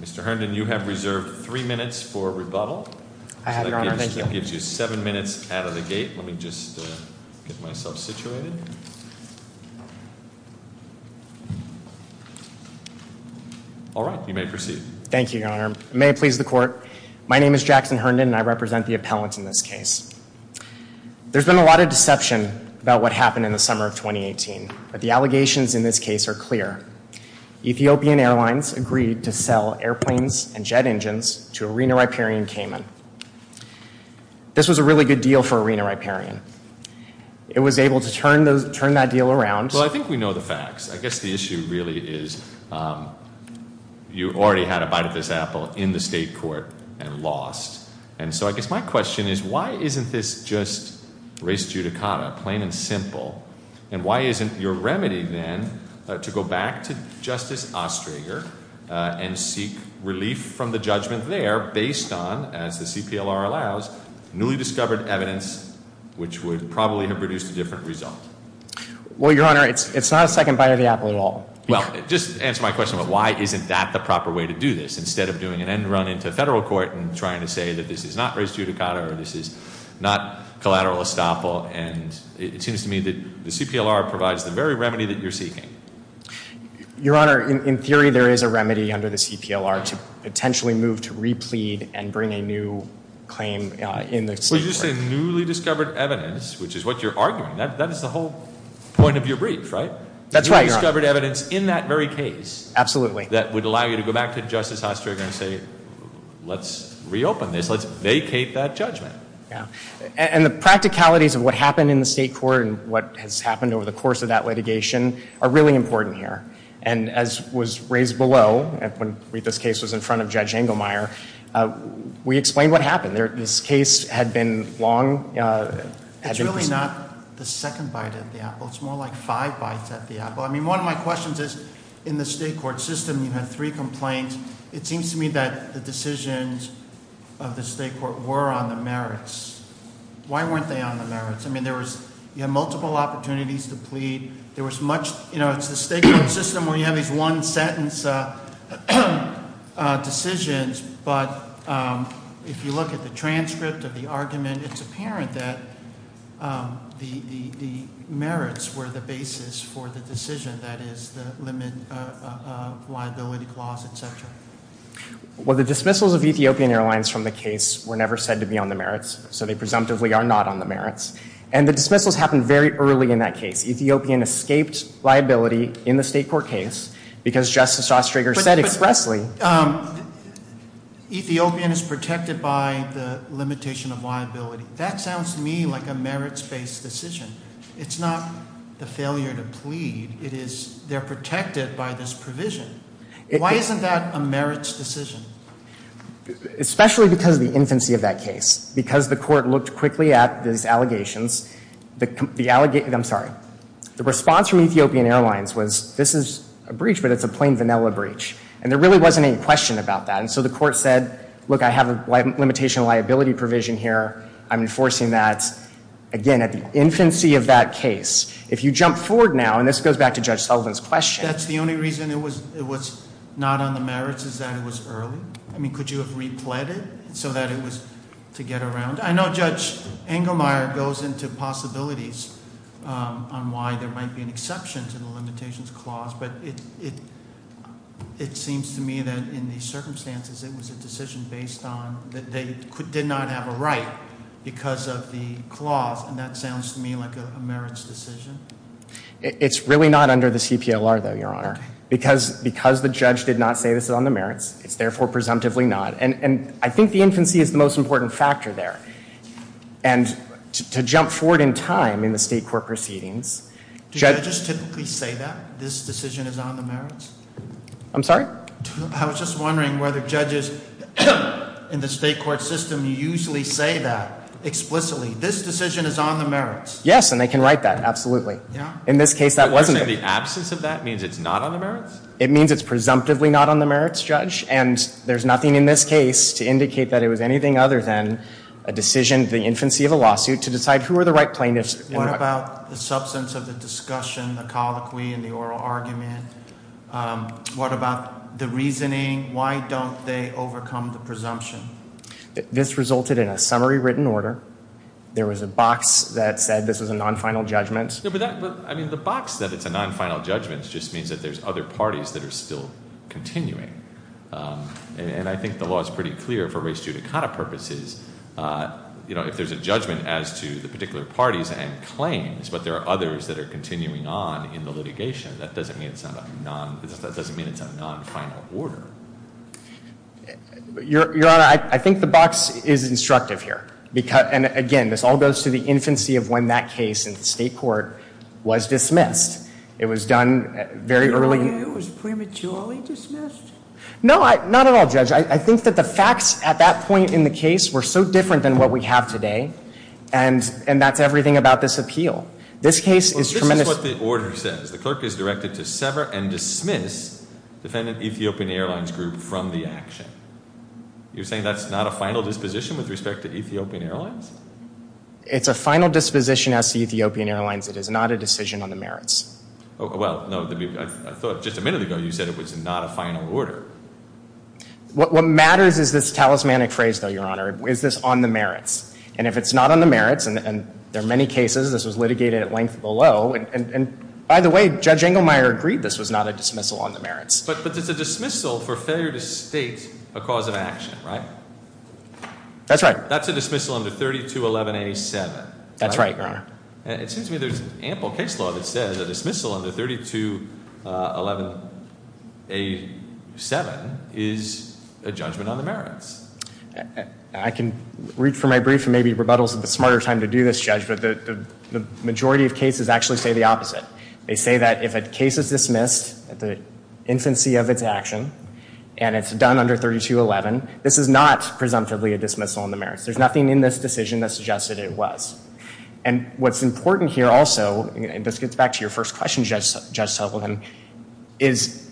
Mr. Herndon, you have reserved three minutes for rebuttal. I have, Your Honor. Thank you. That gives you seven minutes out of the gate. Let me just get myself situated. All right. You may proceed. Thank you, Your Honor. May it please the Court, my name is Jackson Herndon and I represent the appellants in this case. There's been a lot of deception about what happened in the summer of 2018. But the allegations in this case are clear. Ethiopian Airlines agreed to sell airplanes and jet engines to Arena Riparian Cayman. This was a really good deal for Arena Riparian. It was able to turn that deal around. Well, I think we know the facts. I guess the issue really is you already had a bite of this apple in the state court and lost. And so I guess my question is, why isn't this just res judicata, plain and simple? And why isn't your remedy then to go back to Justice Ostrager and seek relief from the judgment there based on, as the CPLR allows, newly discovered evidence which would probably have produced a different result? Well, Your Honor, it's not a second bite of the apple at all. Well, just to answer my question, why isn't that the proper way to do this instead of doing an end run into federal court and trying to say that this is not res judicata or this is not collateral estoppel? And it seems to me that the CPLR provides the very remedy that you're seeking. Your Honor, in theory, there is a remedy under the CPLR to potentially move to replead and bring a new claim in the state court. Well, you just say newly discovered evidence, which is what you're arguing. That is the whole point of your brief, right? That's right, Your Honor. Newly discovered evidence in that very case. Absolutely. That would allow you to go back to Justice Ostrager and say, let's reopen this. Let's vacate that judgment. And the practicalities of what happened in the state court and what has happened over the course of that litigation are really important here. And as was raised below, when this case was in front of Judge Engelmeyer, we explained what happened. This case had been long It's really not the second bite at the apple. It's more like five bites at the apple. I mean, one of my questions is, in the state court system you had three complaints. It seems to me that the decisions of the state court were on the merits. Why weren't they on the merits? I mean, you had multiple opportunities to plead. There was much you know, it's the state court system where you have these one sentence decisions, but if you look at the transcript of the argument, it's apparent that the merits were the basis for the decision. That is the limit of liability clause, etc. Well, the dismissals of Ethiopian Airlines from the case were never said to be on the merits so they presumptively are not on the merits. And the dismissals happened very early in that case. Ethiopian escaped liability in the state court case because Justice Ostrager said expressly Ethiopian is protected by the limitation of liability. That sounds to me like a merits-based decision. It's not the failure to plead. It is they're protected by this provision. Why isn't that a merits decision? Especially because of the infancy of that case. Because the court looked quickly at these allegations I'm sorry. The response from Ethiopian Airlines was this is a breach, but it's a plain vanilla breach. And there really wasn't any question about that. And so the court said, look, I have a limitation of liability provision here. I'm enforcing that. Again, at the infancy of that case. If you jump forward now, and this goes back to Judge Sullivan's question That's the only reason it was not on the merits is that it was early? I mean, could you have repled it so that it was to get around? I know Judge Engelmeyer goes into possibilities on why there might be an exception to the limitations clause, but it seems to me that in these circumstances it was a decision based on that they did not have a right because of the limitations clause. And that sounds to me like a merits decision. It's really not under the CPLR though, Your Honor. Because the judge did not say this is on the merits, it's therefore presumptively not. And I think the infancy is the most important factor there. And to jump forward in time in the state court proceedings. Do judges typically say that this decision is on the merits? I'm sorry? I was just wondering whether judges in the state court system usually say that explicitly, this decision is on the merits. Yes, and they can write that absolutely. In this case that wasn't. You're saying the absence of that means it's not on the merits? It means it's presumptively not on the merits, Judge. And there's nothing in this case to indicate that it was anything other than a decision, the infancy of a lawsuit to decide who are the right plaintiffs. What about the substance of the discussion, the colloquy and the oral argument? What about the reasoning? Why don't they overcome the presumption? This resulted in a summary written order. There was a box that said this was a non-final judgment. I mean, the box that it's a non-final judgment just means that there's other parties that are still continuing. And I think the law is pretty clear for race judicata purposes. If there's a judgment as to the particular parties and claims, but there are others that are continuing on in the litigation, that doesn't mean it's a non-final order. Your Honor, I think the box is instructive here. And again, this all goes to the infancy of when that case in state court was dismissed. It was done very early. It was prematurely dismissed? No, not at all, Judge. I think that the facts at that point in the case were so different than what we have today. And that's everything about this appeal. This case is tremendous. Well, this is what the order says. The clerk is directed to sever and dismiss defendant Ethiopian Airlines Group from the action. You're saying that's not a final disposition with respect to Ethiopian Airlines? It's a final disposition as to Ethiopian Airlines. It is not a decision on the merits. Well, no, I thought just a minute ago you said it was not a final order. What matters is this talismanic phrase, though, Your Honor. Is this on the merits? And if it's not on the merits, and there are many cases, this was litigated at length below. And by the way, Judge it's a dismissal on the merits. But it's a dismissal for failure to state a cause of action, right? That's right. That's a dismissal under 3211A7. That's right, Your Honor. It seems to me there's an ample case law that says a dismissal under 3211A7 is a judgment on the merits. I can read from my brief and maybe rebuttal is a smarter time to do this, Judge, but the majority of cases actually say the opposite. They say that if a case is dismissed at the infancy of its action and it's done under 3211, this is not presumptively a dismissal on the merits. There's nothing in this decision that suggested it was. And what's important here also, and this gets back to your first question, Judge Sullivan, is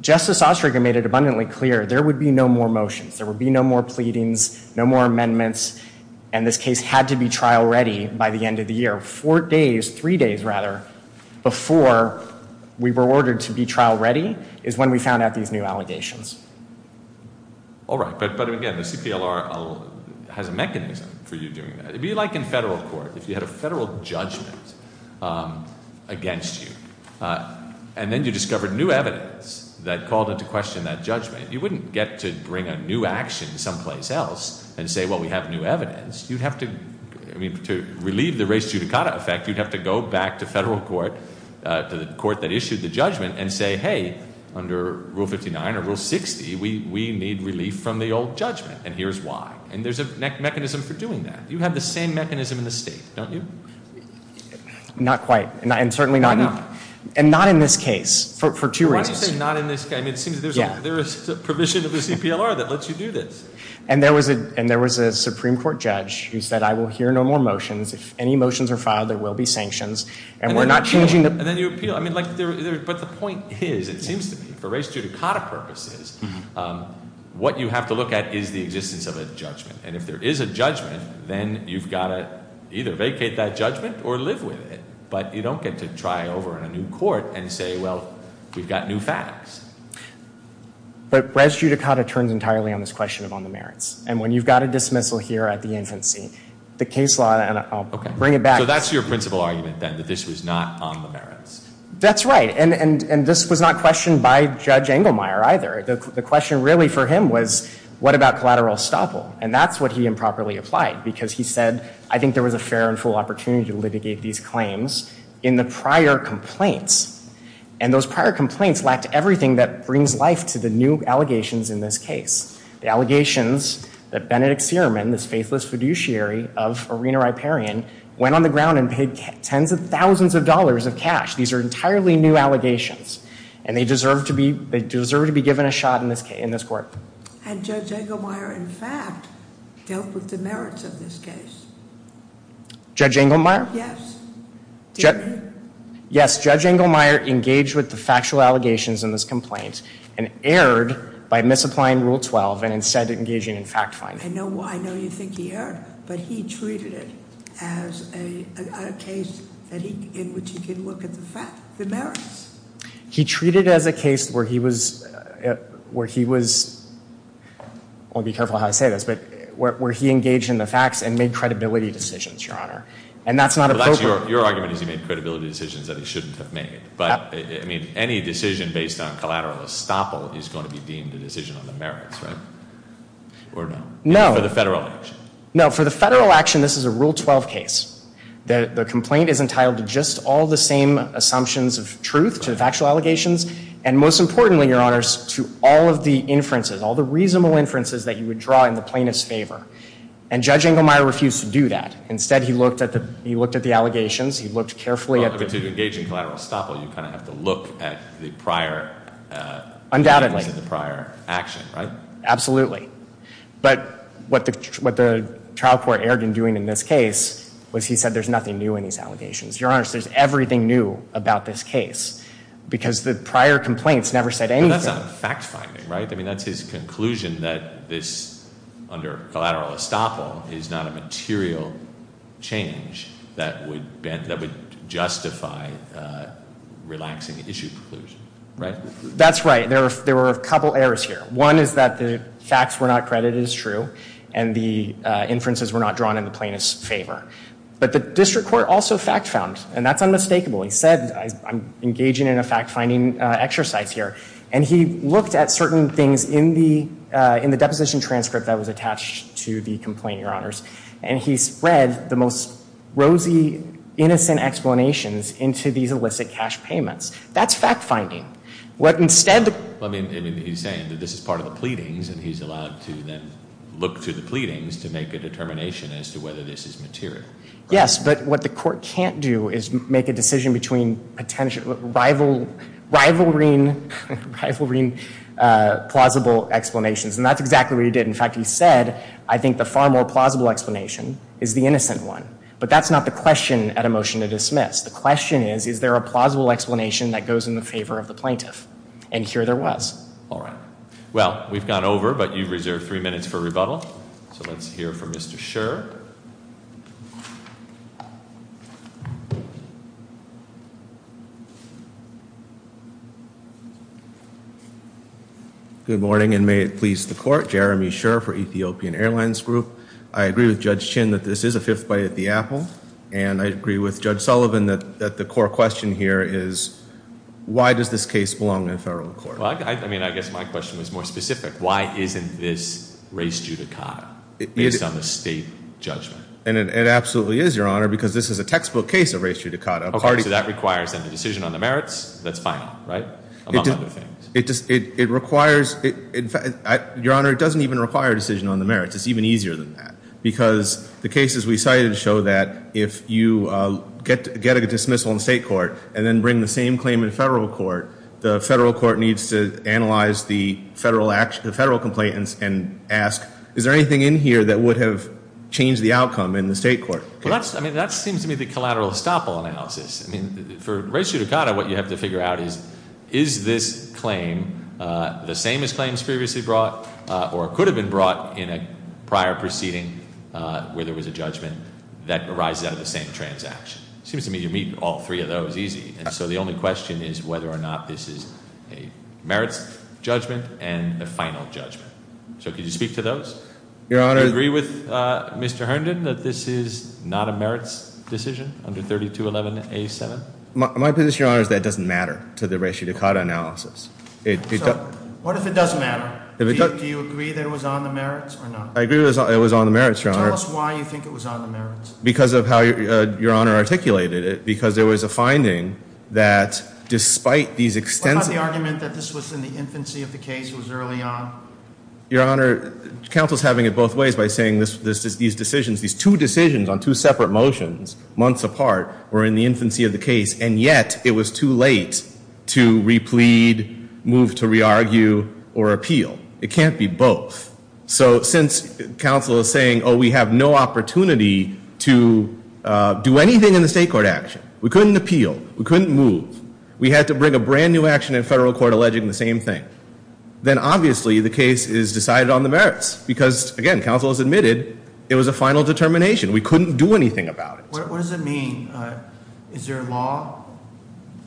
Justice Osteringer made it abundantly clear there would be no more motions. There would be no more pleadings, no more amendments, and this case had to be trial ready by the end of the year. Four days, three days before we were ordered to be trial ready is when we found out these new allegations. All right. But again, the CPLR has a mechanism for you doing that. It would be like in federal court. If you had a federal judgment against you, and then you discovered new evidence that called into question that judgment, you wouldn't get to bring a new action someplace else and say, well, we have new evidence. You'd have to, I mean, to relieve the res judicata effect, you'd have to go back to federal court, to the court that issued the judgment, and say, hey, under Rule 59 or Rule 60, we need relief from the old judgment, and here's why. And there's a mechanism for doing that. You have the same mechanism in the state, don't you? Not quite. And certainly not in this case, for two reasons. Why do you say not in this case? I mean, it seems there's a provision of the CPLR that lets you do this. And there was a Supreme Court judge who said, I will hear no more motions. If any motions are filed, there will be sanctions. But the point is, it seems to me, for res judicata purposes, what you have to look at is the existence of a judgment. And if there is a judgment, then you've got to either vacate that judgment or live with it. But you don't get to try over in a new court and say, well, we've got new facts. But res judicata turns entirely on this question of on the merits. And when you've got a dismissal here at the infancy, the case law, and I'll bring it back. So that's your principal argument then, that this was not on the merits? That's right. And this was not questioned by Judge Engelmeyer either. The question really for him was, what about collateral estoppel? And that's what he improperly applied. Because he said, I think there was a fair and full opportunity to litigate these claims in the prior complaints. And those prior complaints lacked everything that brings life to the new allegations in this case. The allegations that Benedict Searman, this faithless fiduciary of Irina Riparian, went on the ground and paid tens of thousands of dollars of cash. These are entirely new allegations. And they deserve to be given a shot in this court. And Judge Engelmeyer, in fact, dealt with the merits of this case. Judge Engelmeyer? Yes. Did he? Yes, Judge Engelmeyer engaged with the factual allegations in this complaint and erred by misapplying Rule 12 and instead engaging in fact-finding. I know you think he erred, but he treated it as a case in which he could look at the merits. He treated it as a case where he was, where he was, I want to be careful how I say this, but where he engaged in the facts and made credibility decisions, Your Honor. And that's not appropriate. Your argument is he made credibility decisions that he shouldn't have made. But, I mean, any decision based on collateral estoppel is going to be deemed a decision on the merits, right? Or no? No. For the federal action? No, for the federal action, this is a Rule 12 case. The complaint is entitled to just all the same assumptions of truth, to factual allegations, and most importantly, Your Honor, to all of the inferences, all the reasonable inferences that you would draw in the plaintiff's favor. And Judge Engelmeyer refused to do that. Instead, he looked at the, he looked at the allegations, he looked carefully at the... Well, to engage in collateral estoppel, you kind of have to look at the prior action, right? Undoubtedly. Absolutely. But what the trial court erred in doing in this case was he said there's nothing new in these allegations. Your Honor, there's everything new about this case. Because the prior complaints never said anything. But that's not fact-finding, right? I mean, that's his conclusion that this under collateral estoppel is not a material change that would justify the relaxing issue conclusion, right? That's right. There were a couple errors here. One is that the facts were not credited as true, and the inferences were not drawn in the plaintiff's favor. But the district court also fact-found, and that's unmistakable. He said, I'm engaging in a fact-finding exercise here. And he looked at certain things in the deposition transcript that was attached to the complaint, Your Honors. And he spread the most rosy, innocent explanations into these illicit cash payments. That's fact-finding. I mean, he's saying that this is part of the pleadings, and he's allowed to then look through the pleadings to make a determination as to whether this is material. Yes, but what the court can't do is make a decision between rivalring plausible explanations. And that's exactly what he did. In fact, he said I think the far more plausible explanation is the innocent one. But that's not the motion to dismiss. The question is, is there a plausible explanation that goes in the favor of the plaintiff? And here there was. All right. Well, we've gone over, but you've reserved three minutes for rebuttal. So let's hear from Mr. Scherr. Good morning, and may it please the Court. Jeremy Scherr for Ethiopian Airlines Group. I agree with Judge Chin that this is a fifth bite at the apple, and I agree with Judge Sullivan that the core question here is, why does this case belong in federal court? I mean, I guess my question was more specific. Why isn't this race judicata based on the state judgment? And it absolutely is, Your Honor, because this is a textbook case of race judicata. Okay, so that requires then a decision on the merits. That's final, right? Among other things. It requires in fact, Your Honor, it doesn't even require a decision on the merits. It's even easier than that. Because the cases we cited show that if you get a dismissal in state court and then bring the same claim in federal court, the federal court needs to analyze the federal complaint and ask, is there anything in here that would have changed the outcome in the state court? Well, that seems to me the collateral estoppel analysis. For race judicata, what you have to figure out is, is this claim the same as claims previously brought, or could have been brought in a prior proceeding where there was a judgment that arises out of the same transaction? It seems to me you meet all three of those easy. And so the only question is whether or not this is a merits judgment and a final judgment. So could you speak to those? Do you agree with Mr. Herndon that this is not a merits decision under 3211A7? My position, Your Honor, is that it doesn't matter to the race judicata analysis. What if it doesn't matter? Do you agree that it was on the merits or not? I agree that it was on the merits, Your Honor. Tell us why you think it was on the merits. Because of how Your Honor articulated it. Because there was a finding that despite these extensive What about the argument that this was in the infancy of the case, it was early on? Your Honor, counsel's having it both ways by saying these decisions, these two decisions on two separate motions, months apart, were in the infancy of the case and yet it was too late to replead, move to re-argue or appeal. It can't be both. So since counsel is saying, oh, we have no opportunity to do anything in the state court action. We couldn't appeal. We couldn't move. We had to bring a brand new action in federal court alleging the same thing. Then obviously the case is decided on the merits because, again, counsel has admitted it was a final determination. We couldn't do anything about it. What does it mean? Is there a law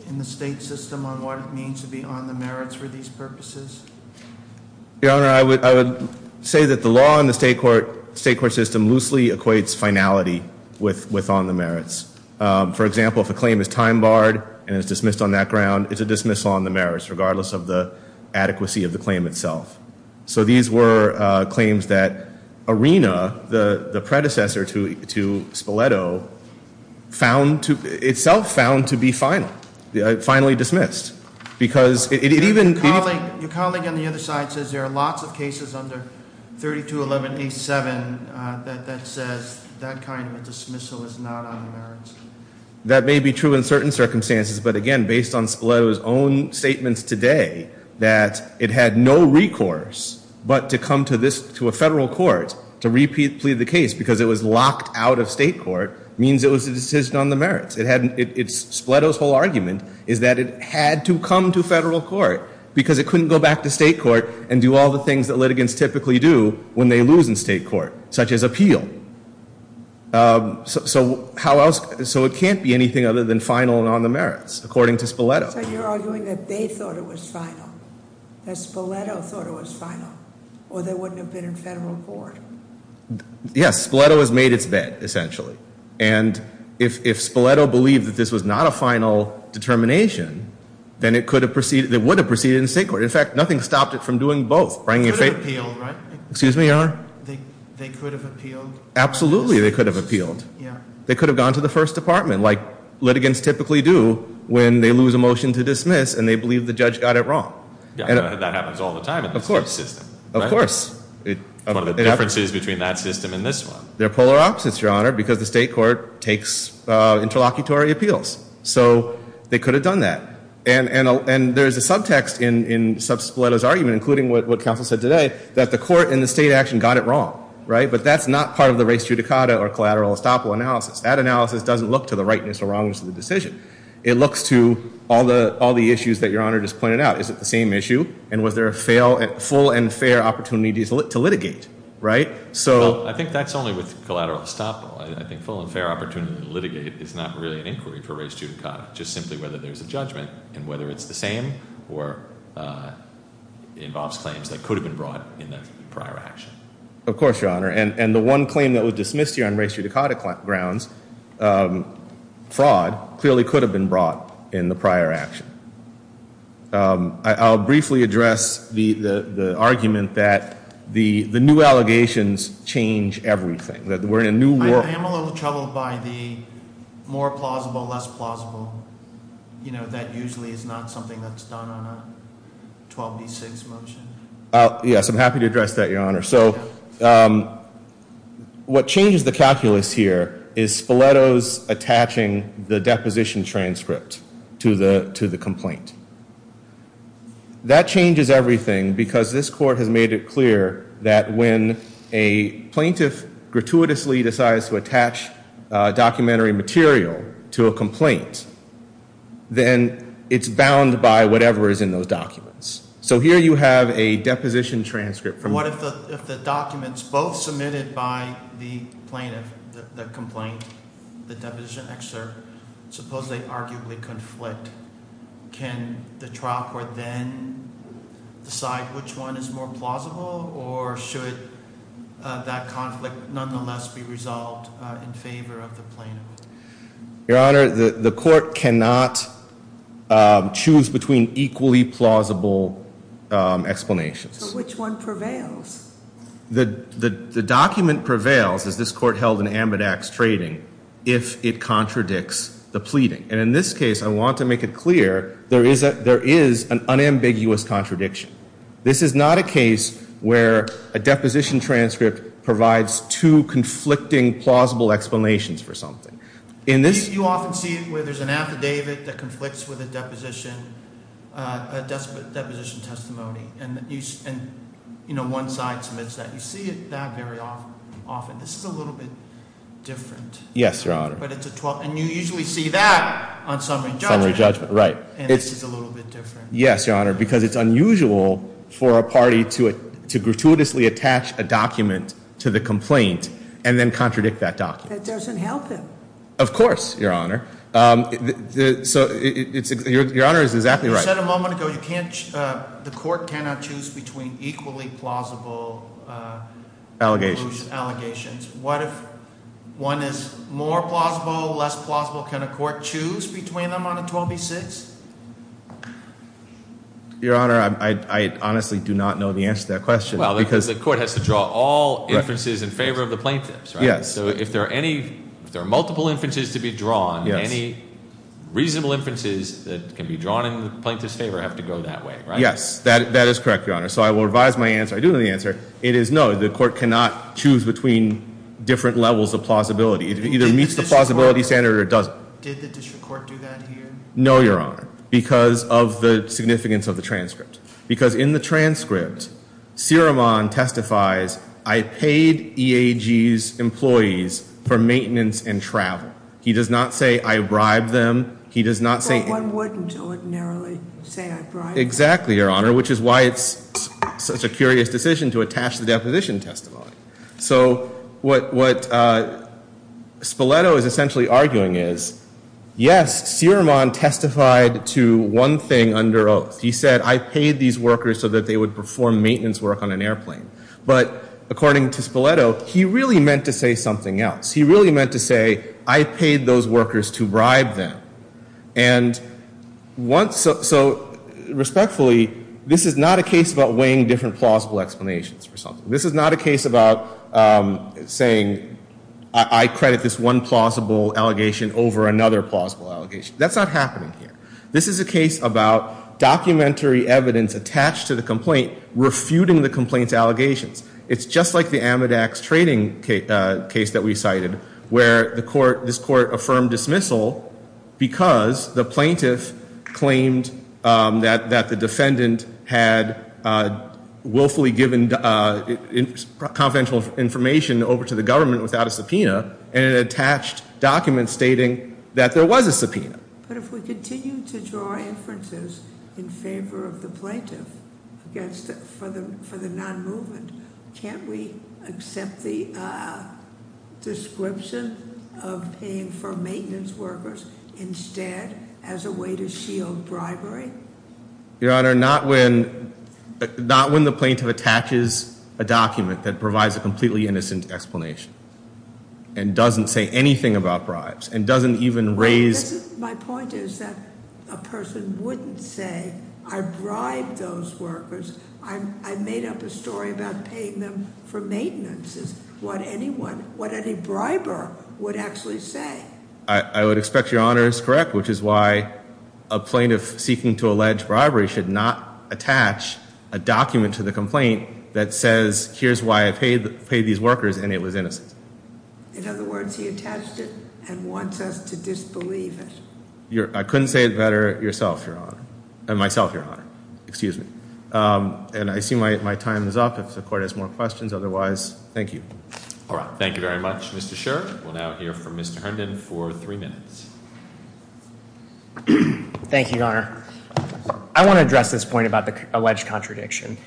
in the state system on what it means to be on the merits for these purposes? Your Honor, I would say that the law in the state court system loosely equates finality with on the merits. For example, if a claim is time barred and is dismissed on that ground, it's a dismissal on the merits regardless of the adequacy of the claim itself. So these were claims that Arena, the predecessor to Spoleto, itself found to be finally dismissed. Your colleague on the other side says there are lots of cases under 3211A7 that says that kind of a dismissal is not on the merits. That may be true in certain circumstances, but again, based on Spoleto's own statements today, that it had no recourse but to come to a federal court to plead the case because it was locked out of state court means it was a decision on the merits. Spoleto's whole argument is that it had to come to federal court because it couldn't go back to state court and do all the things that litigants typically do when they lose in state court, such as appeal. So it can't be anything other than final and on the merits, according to Spoleto. So you're arguing that they thought it was final, that Spoleto thought it was final, or they wouldn't have been in federal court? Yes, Spoleto has made its bed, essentially. And if Spoleto believed that this was not a final determination, then it would have proceeded in state court. In fact, nothing stopped it from doing both. It could have appealed, right? Excuse me, Your Honor? They could have appealed? Absolutely, they could have appealed. They could have gone to the first department, like litigants typically do when they lose a motion to dismiss and they believe the judge got it wrong. That happens all the time in the state system. Of course. One of the differences between that system and this one? They're polar opposites, Your Honor, because the state court takes interlocutory appeals. So they could have done that. And there's a subtext in Spoleto's argument, including what counsel said today, that the court in the state action got it wrong. But that's not part of the res judicata or collateral estoppel analysis. That analysis doesn't look to the rightness or wrongness of the decision. It looks to all the issues that Your Honor just pointed out. Is it the same issue? And was there a full and fair opportunity to litigate? Right? I think that's only with collateral estoppel. I think full and fair opportunity to litigate is not really an inquiry for res judicata. Just simply whether there's a judgment and whether it's the same or involves claims that could have been brought in the prior action. Of course, Your Honor. And the one claim that was dismissed here on res judicata grounds, fraud, clearly could have been brought in the prior action. I'll briefly address the new allegations change everything. I am a little troubled by the more plausible, less plausible. That usually is not something that's done on a 12b6 motion. Yes, I'm happy to address that, Your Honor. What changes the calculus here is Spoleto's attaching the deposition transcript to the complaint. That changes everything because this court has made it clear that when a plaintiff gratuitously decides to attach documentary material to a complaint, then it's bound by whatever is in those documents. So here you have a deposition transcript. What if the documents both submitted by the plaintiff, the complaint, the deposition excerpt, suppose they arguably conflict? Can the trial court then decide which one is more plausible or should that conflict nonetheless be resolved in favor of the plaintiff? Your Honor, the court cannot choose between equally plausible explanations. So which one prevails? The document prevails, as this court held in ambidextrating, if it contradicts the pleading. And in this case, I want to make it clear, there is an unambiguous contradiction. This is not a case where a deposition transcript provides two conflicting plausible explanations for something. You often see where there's an affidavit that conflicts with a deposition testimony and one side submits that. You see that very often. This is a little bit different. Yes, Your Honor. And you usually see that on summary documents. Yes, Your Honor, because it's unusual for a party to gratuitously attach a document to the complaint and then contradict that document. That doesn't help them. Of course, Your Honor. Your Honor is exactly right. You said a moment ago the court cannot choose between equally plausible allegations. What if one is more plausible, less plausible? Can a court choose between them on a 12 v. 6? Your Honor, I honestly do not know the answer to that question. Well, the court has to draw all inferences in favor of the plaintiffs, right? Yes. So if there are multiple inferences to be drawn, any reasonable inferences that can be drawn in the plaintiff's favor have to go that way, right? Yes, that is correct, Your Honor. So I will revise my answer. I do know the answer. It is no, the court cannot choose between different levels of plausibility. It either meets the plausibility standard or it doesn't. Did the district court do that here? No, Your Honor, because of the significance of the transcript. Because in the transcript Sirimon testifies, I paid EAG's employees for maintenance and travel. He does not say I bribed them. He does not say... But one wouldn't ordinarily say I bribed them. Exactly, Your Honor, which is why it's such a curious decision to attach the deposition testimony. So what Spoleto is essentially arguing is, yes, Sirimon testified to one thing under oath. He said, I paid these workers so that they would perform maintenance work on an airplane. But according to Spoleto, he really meant to say something else. He really meant to say, I paid those workers to bribe them. And once... So respectfully, this is not a case about weighing different plausible explanations for something. This is not a case about saying, I credit this one plausible allegation over another plausible allegation. That's not happening here. This is a case about documentary evidence attached to the complaint refuting the complaint's allegations. It's just like the Amedex trading case that we cited, where this court affirmed dismissal because the plaintiff claimed that the defendant had willfully given confidential information over to the government without a subpoena and an attached document stating that there was a subpoena. But if we continue to draw inferences in favor of the plaintiff for the non-movement, can't we accept the description of paying for maintenance workers instead as a way to shield bribery? Your Honor, not when the plaintiff attaches a document that provides a completely innocent explanation and doesn't say anything about bribes and doesn't even raise... My point is that a person wouldn't say I bribed those workers. I made up a story about paying them for maintenance is what anyone, what any briber would actually say. I would expect Your Honor is correct which is why a plaintiff seeking to allege bribery should not attach a document to the complaint that says here's why I paid these workers and it was innocent. In other words, he attached it and wants us to disbelieve it. I couldn't say it better myself, Your Honor. Excuse me. And I assume my time is up if the court has more questions. Otherwise, thank you. Thank you very much, Mr. Sherr. We'll now hear from Mr. Herndon for three minutes. Thank you, Your Honor. Your Honor, I want to address this point about the alleged contradiction.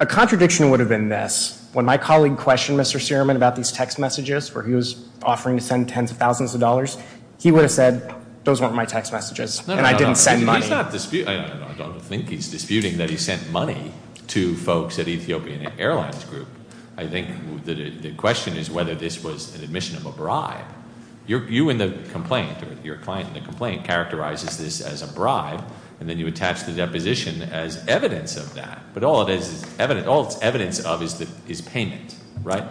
A contradiction would have been this. When my colleague questioned Mr. Sierman about these text messages where he was offering to send tens of thousands of dollars, he would have said those weren't my text messages and I didn't send money. I don't think he's disputing that he sent money to folks at Ethiopian Airlines Group. I think the question is whether this was an admission of a bribe. You and the complaint, your client and the client, and then you attach the deposition as evidence of that. But all it is evidence of is payment, right?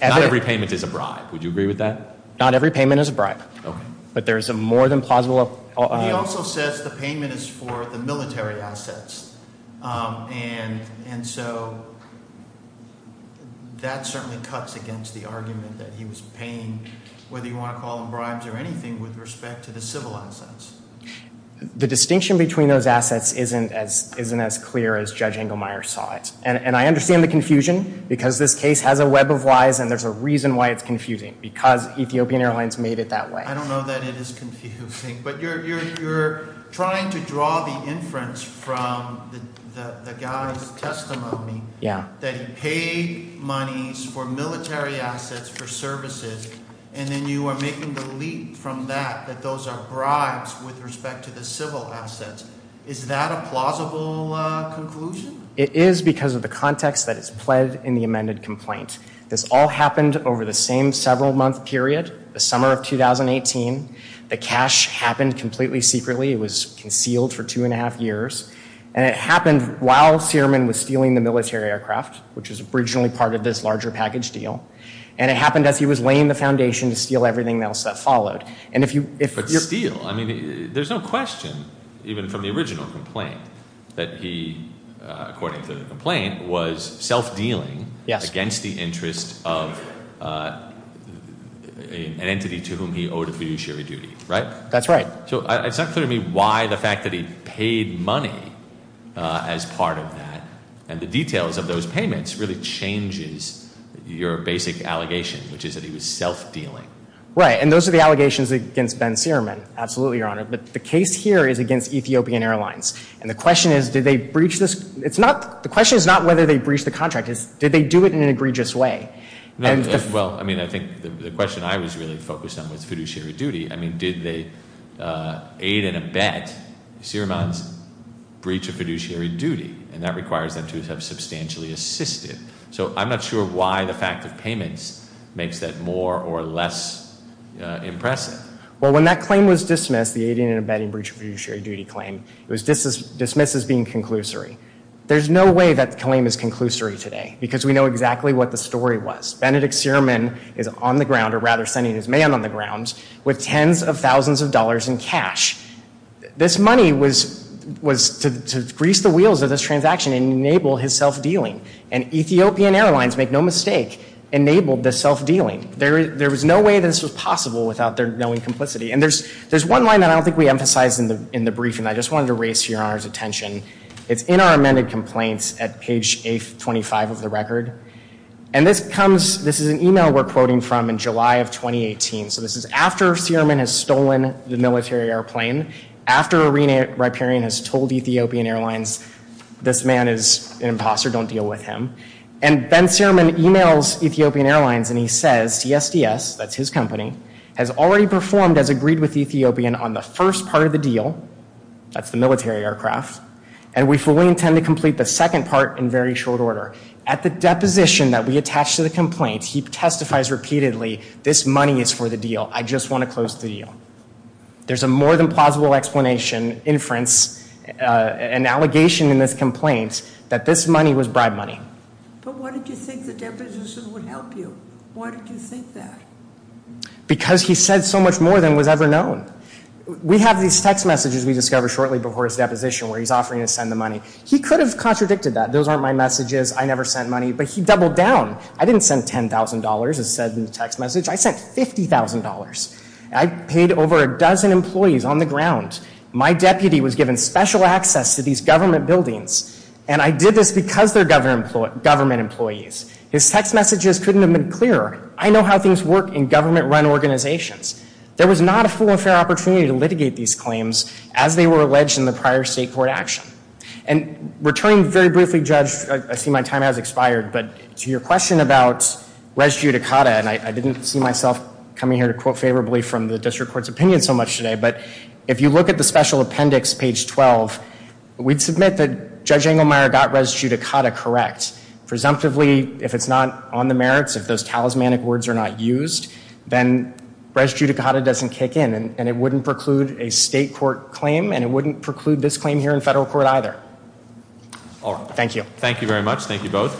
Not every payment is a bribe. Would you agree with that? Not every payment is a bribe. But there is a more than plausible... He also says the payment is for the military assets. And so that certainly cuts against the argument that he was paying, whether you want to call them bribes or anything, with respect to the civil assets. The distinction between those assets isn't as clear as Judge Engelmeyer saw it. And I understand the confusion because this case has a web of lies and there's a reason why it's confusing. Because Ethiopian Airlines made it that way. I don't know that it is confusing. But you're trying to draw the inference from the guy's testimony that he paid monies for military assets for services and then you are making the leap from that that those are bribes with respect to the civil assets. Is that a plausible conclusion? It is because of the context that is pled in the amended complaint. This all happened over the same several month period, the summer of 2018. The cash happened completely secretly. It was concealed for two and a half years. And it happened while Searman was stealing the military aircraft, which was originally part of this larger package deal. And it happened as he was laying the foundation to steal everything else that followed. But steal? There's no question, even from the original complaint, that he according to the complaint, was self-dealing against the interest of an entity to whom he owed a fiduciary duty, right? That's right. So it's not clear to me why the fact that he paid money as part of that and the details of those payments really changes your basic allegation, which is that he was self-dealing. Right. And those are the allegations against Ben Searman. Absolutely, Your Honor. But the case here is against Ethiopian Airlines. And the question is, did they breach this? The question is not whether they breached the contract. It's, did they do it in an egregious way? Well, I mean, I think the question I was really focused on was fiduciary duty. I mean, did they aid and abet Searman's breach of fiduciary duty? And that requires them to have substantially assisted. So I'm not sure why the fact of payments makes that more or less impressive. Well, when that claim was dismissed, the aiding and abetting breach of fiduciary duty claim, it was dismissed as being conclusory. There's no way that claim is conclusory today because we know exactly what the story was. Benedict Searman is on the ground, or rather sending his man on the ground, with tens of thousands of dollars in cash. This money was to grease the wheels of this transaction and enable his self-dealing. And Ethiopian Airlines, make no mistake, enabled the self-dealing. There was no way this was possible without their knowing complicity. And there's one line that I don't think we emphasized in the briefing. I just wanted to raise your Honor's attention. It's in our amended complaints at page 825 of the record. And this comes, this is an email we're quoting from in July of 2018. So this is after Searman has stolen the military airplane, after Irene Riparian has told Ethiopian Airlines, this man is an imposter, don't deal with him. And Ben Searman emails Ethiopian Airlines and he says, CSDS, that's his company, has already performed as agreed with Ethiopian on the first part of the deal, that's the military aircraft, and we fully intend to complete the second part in very short order. At the deposition that we attach to the complaint, he testifies repeatedly, this money is for the deal. I just want to close the deal. There's a more than plausible explanation inference, an allegation in this complaint, that this money was bribe money. But why did you think the deposition would help you? Why did you think that? Because he said so much more than was ever known. We have these text messages we discover shortly before his deposition where he's offering to send the money. He could have contradicted that. Those aren't my messages. I never sent money. But he doubled down. I didn't send $10,000, as said in the text message. I sent $50,000. I paid over a dozen employees on the ground. My deputy was given special access to these government buildings. And I did this because they're government employees. His text messages couldn't have been clearer. I know how things work in government run organizations. There was not a full and fair opportunity to litigate these claims as they were alleged in the prior state court action. And returning very briefly, Judge, I see my time has expired, but to your question about res judicata, and I didn't see myself coming here to quote favorably from the district court's opinion so much today, but if you look at the special appendix page 12, we'd submit that Judge Engelmeyer got res judicata correct. Presumptively, if it's not on the merits, if those talismanic words are not used, then res judicata doesn't kick in and it wouldn't preclude a state court claim and it wouldn't preclude this claim here in federal court either. Thank you. Thank you very much. Thank you both.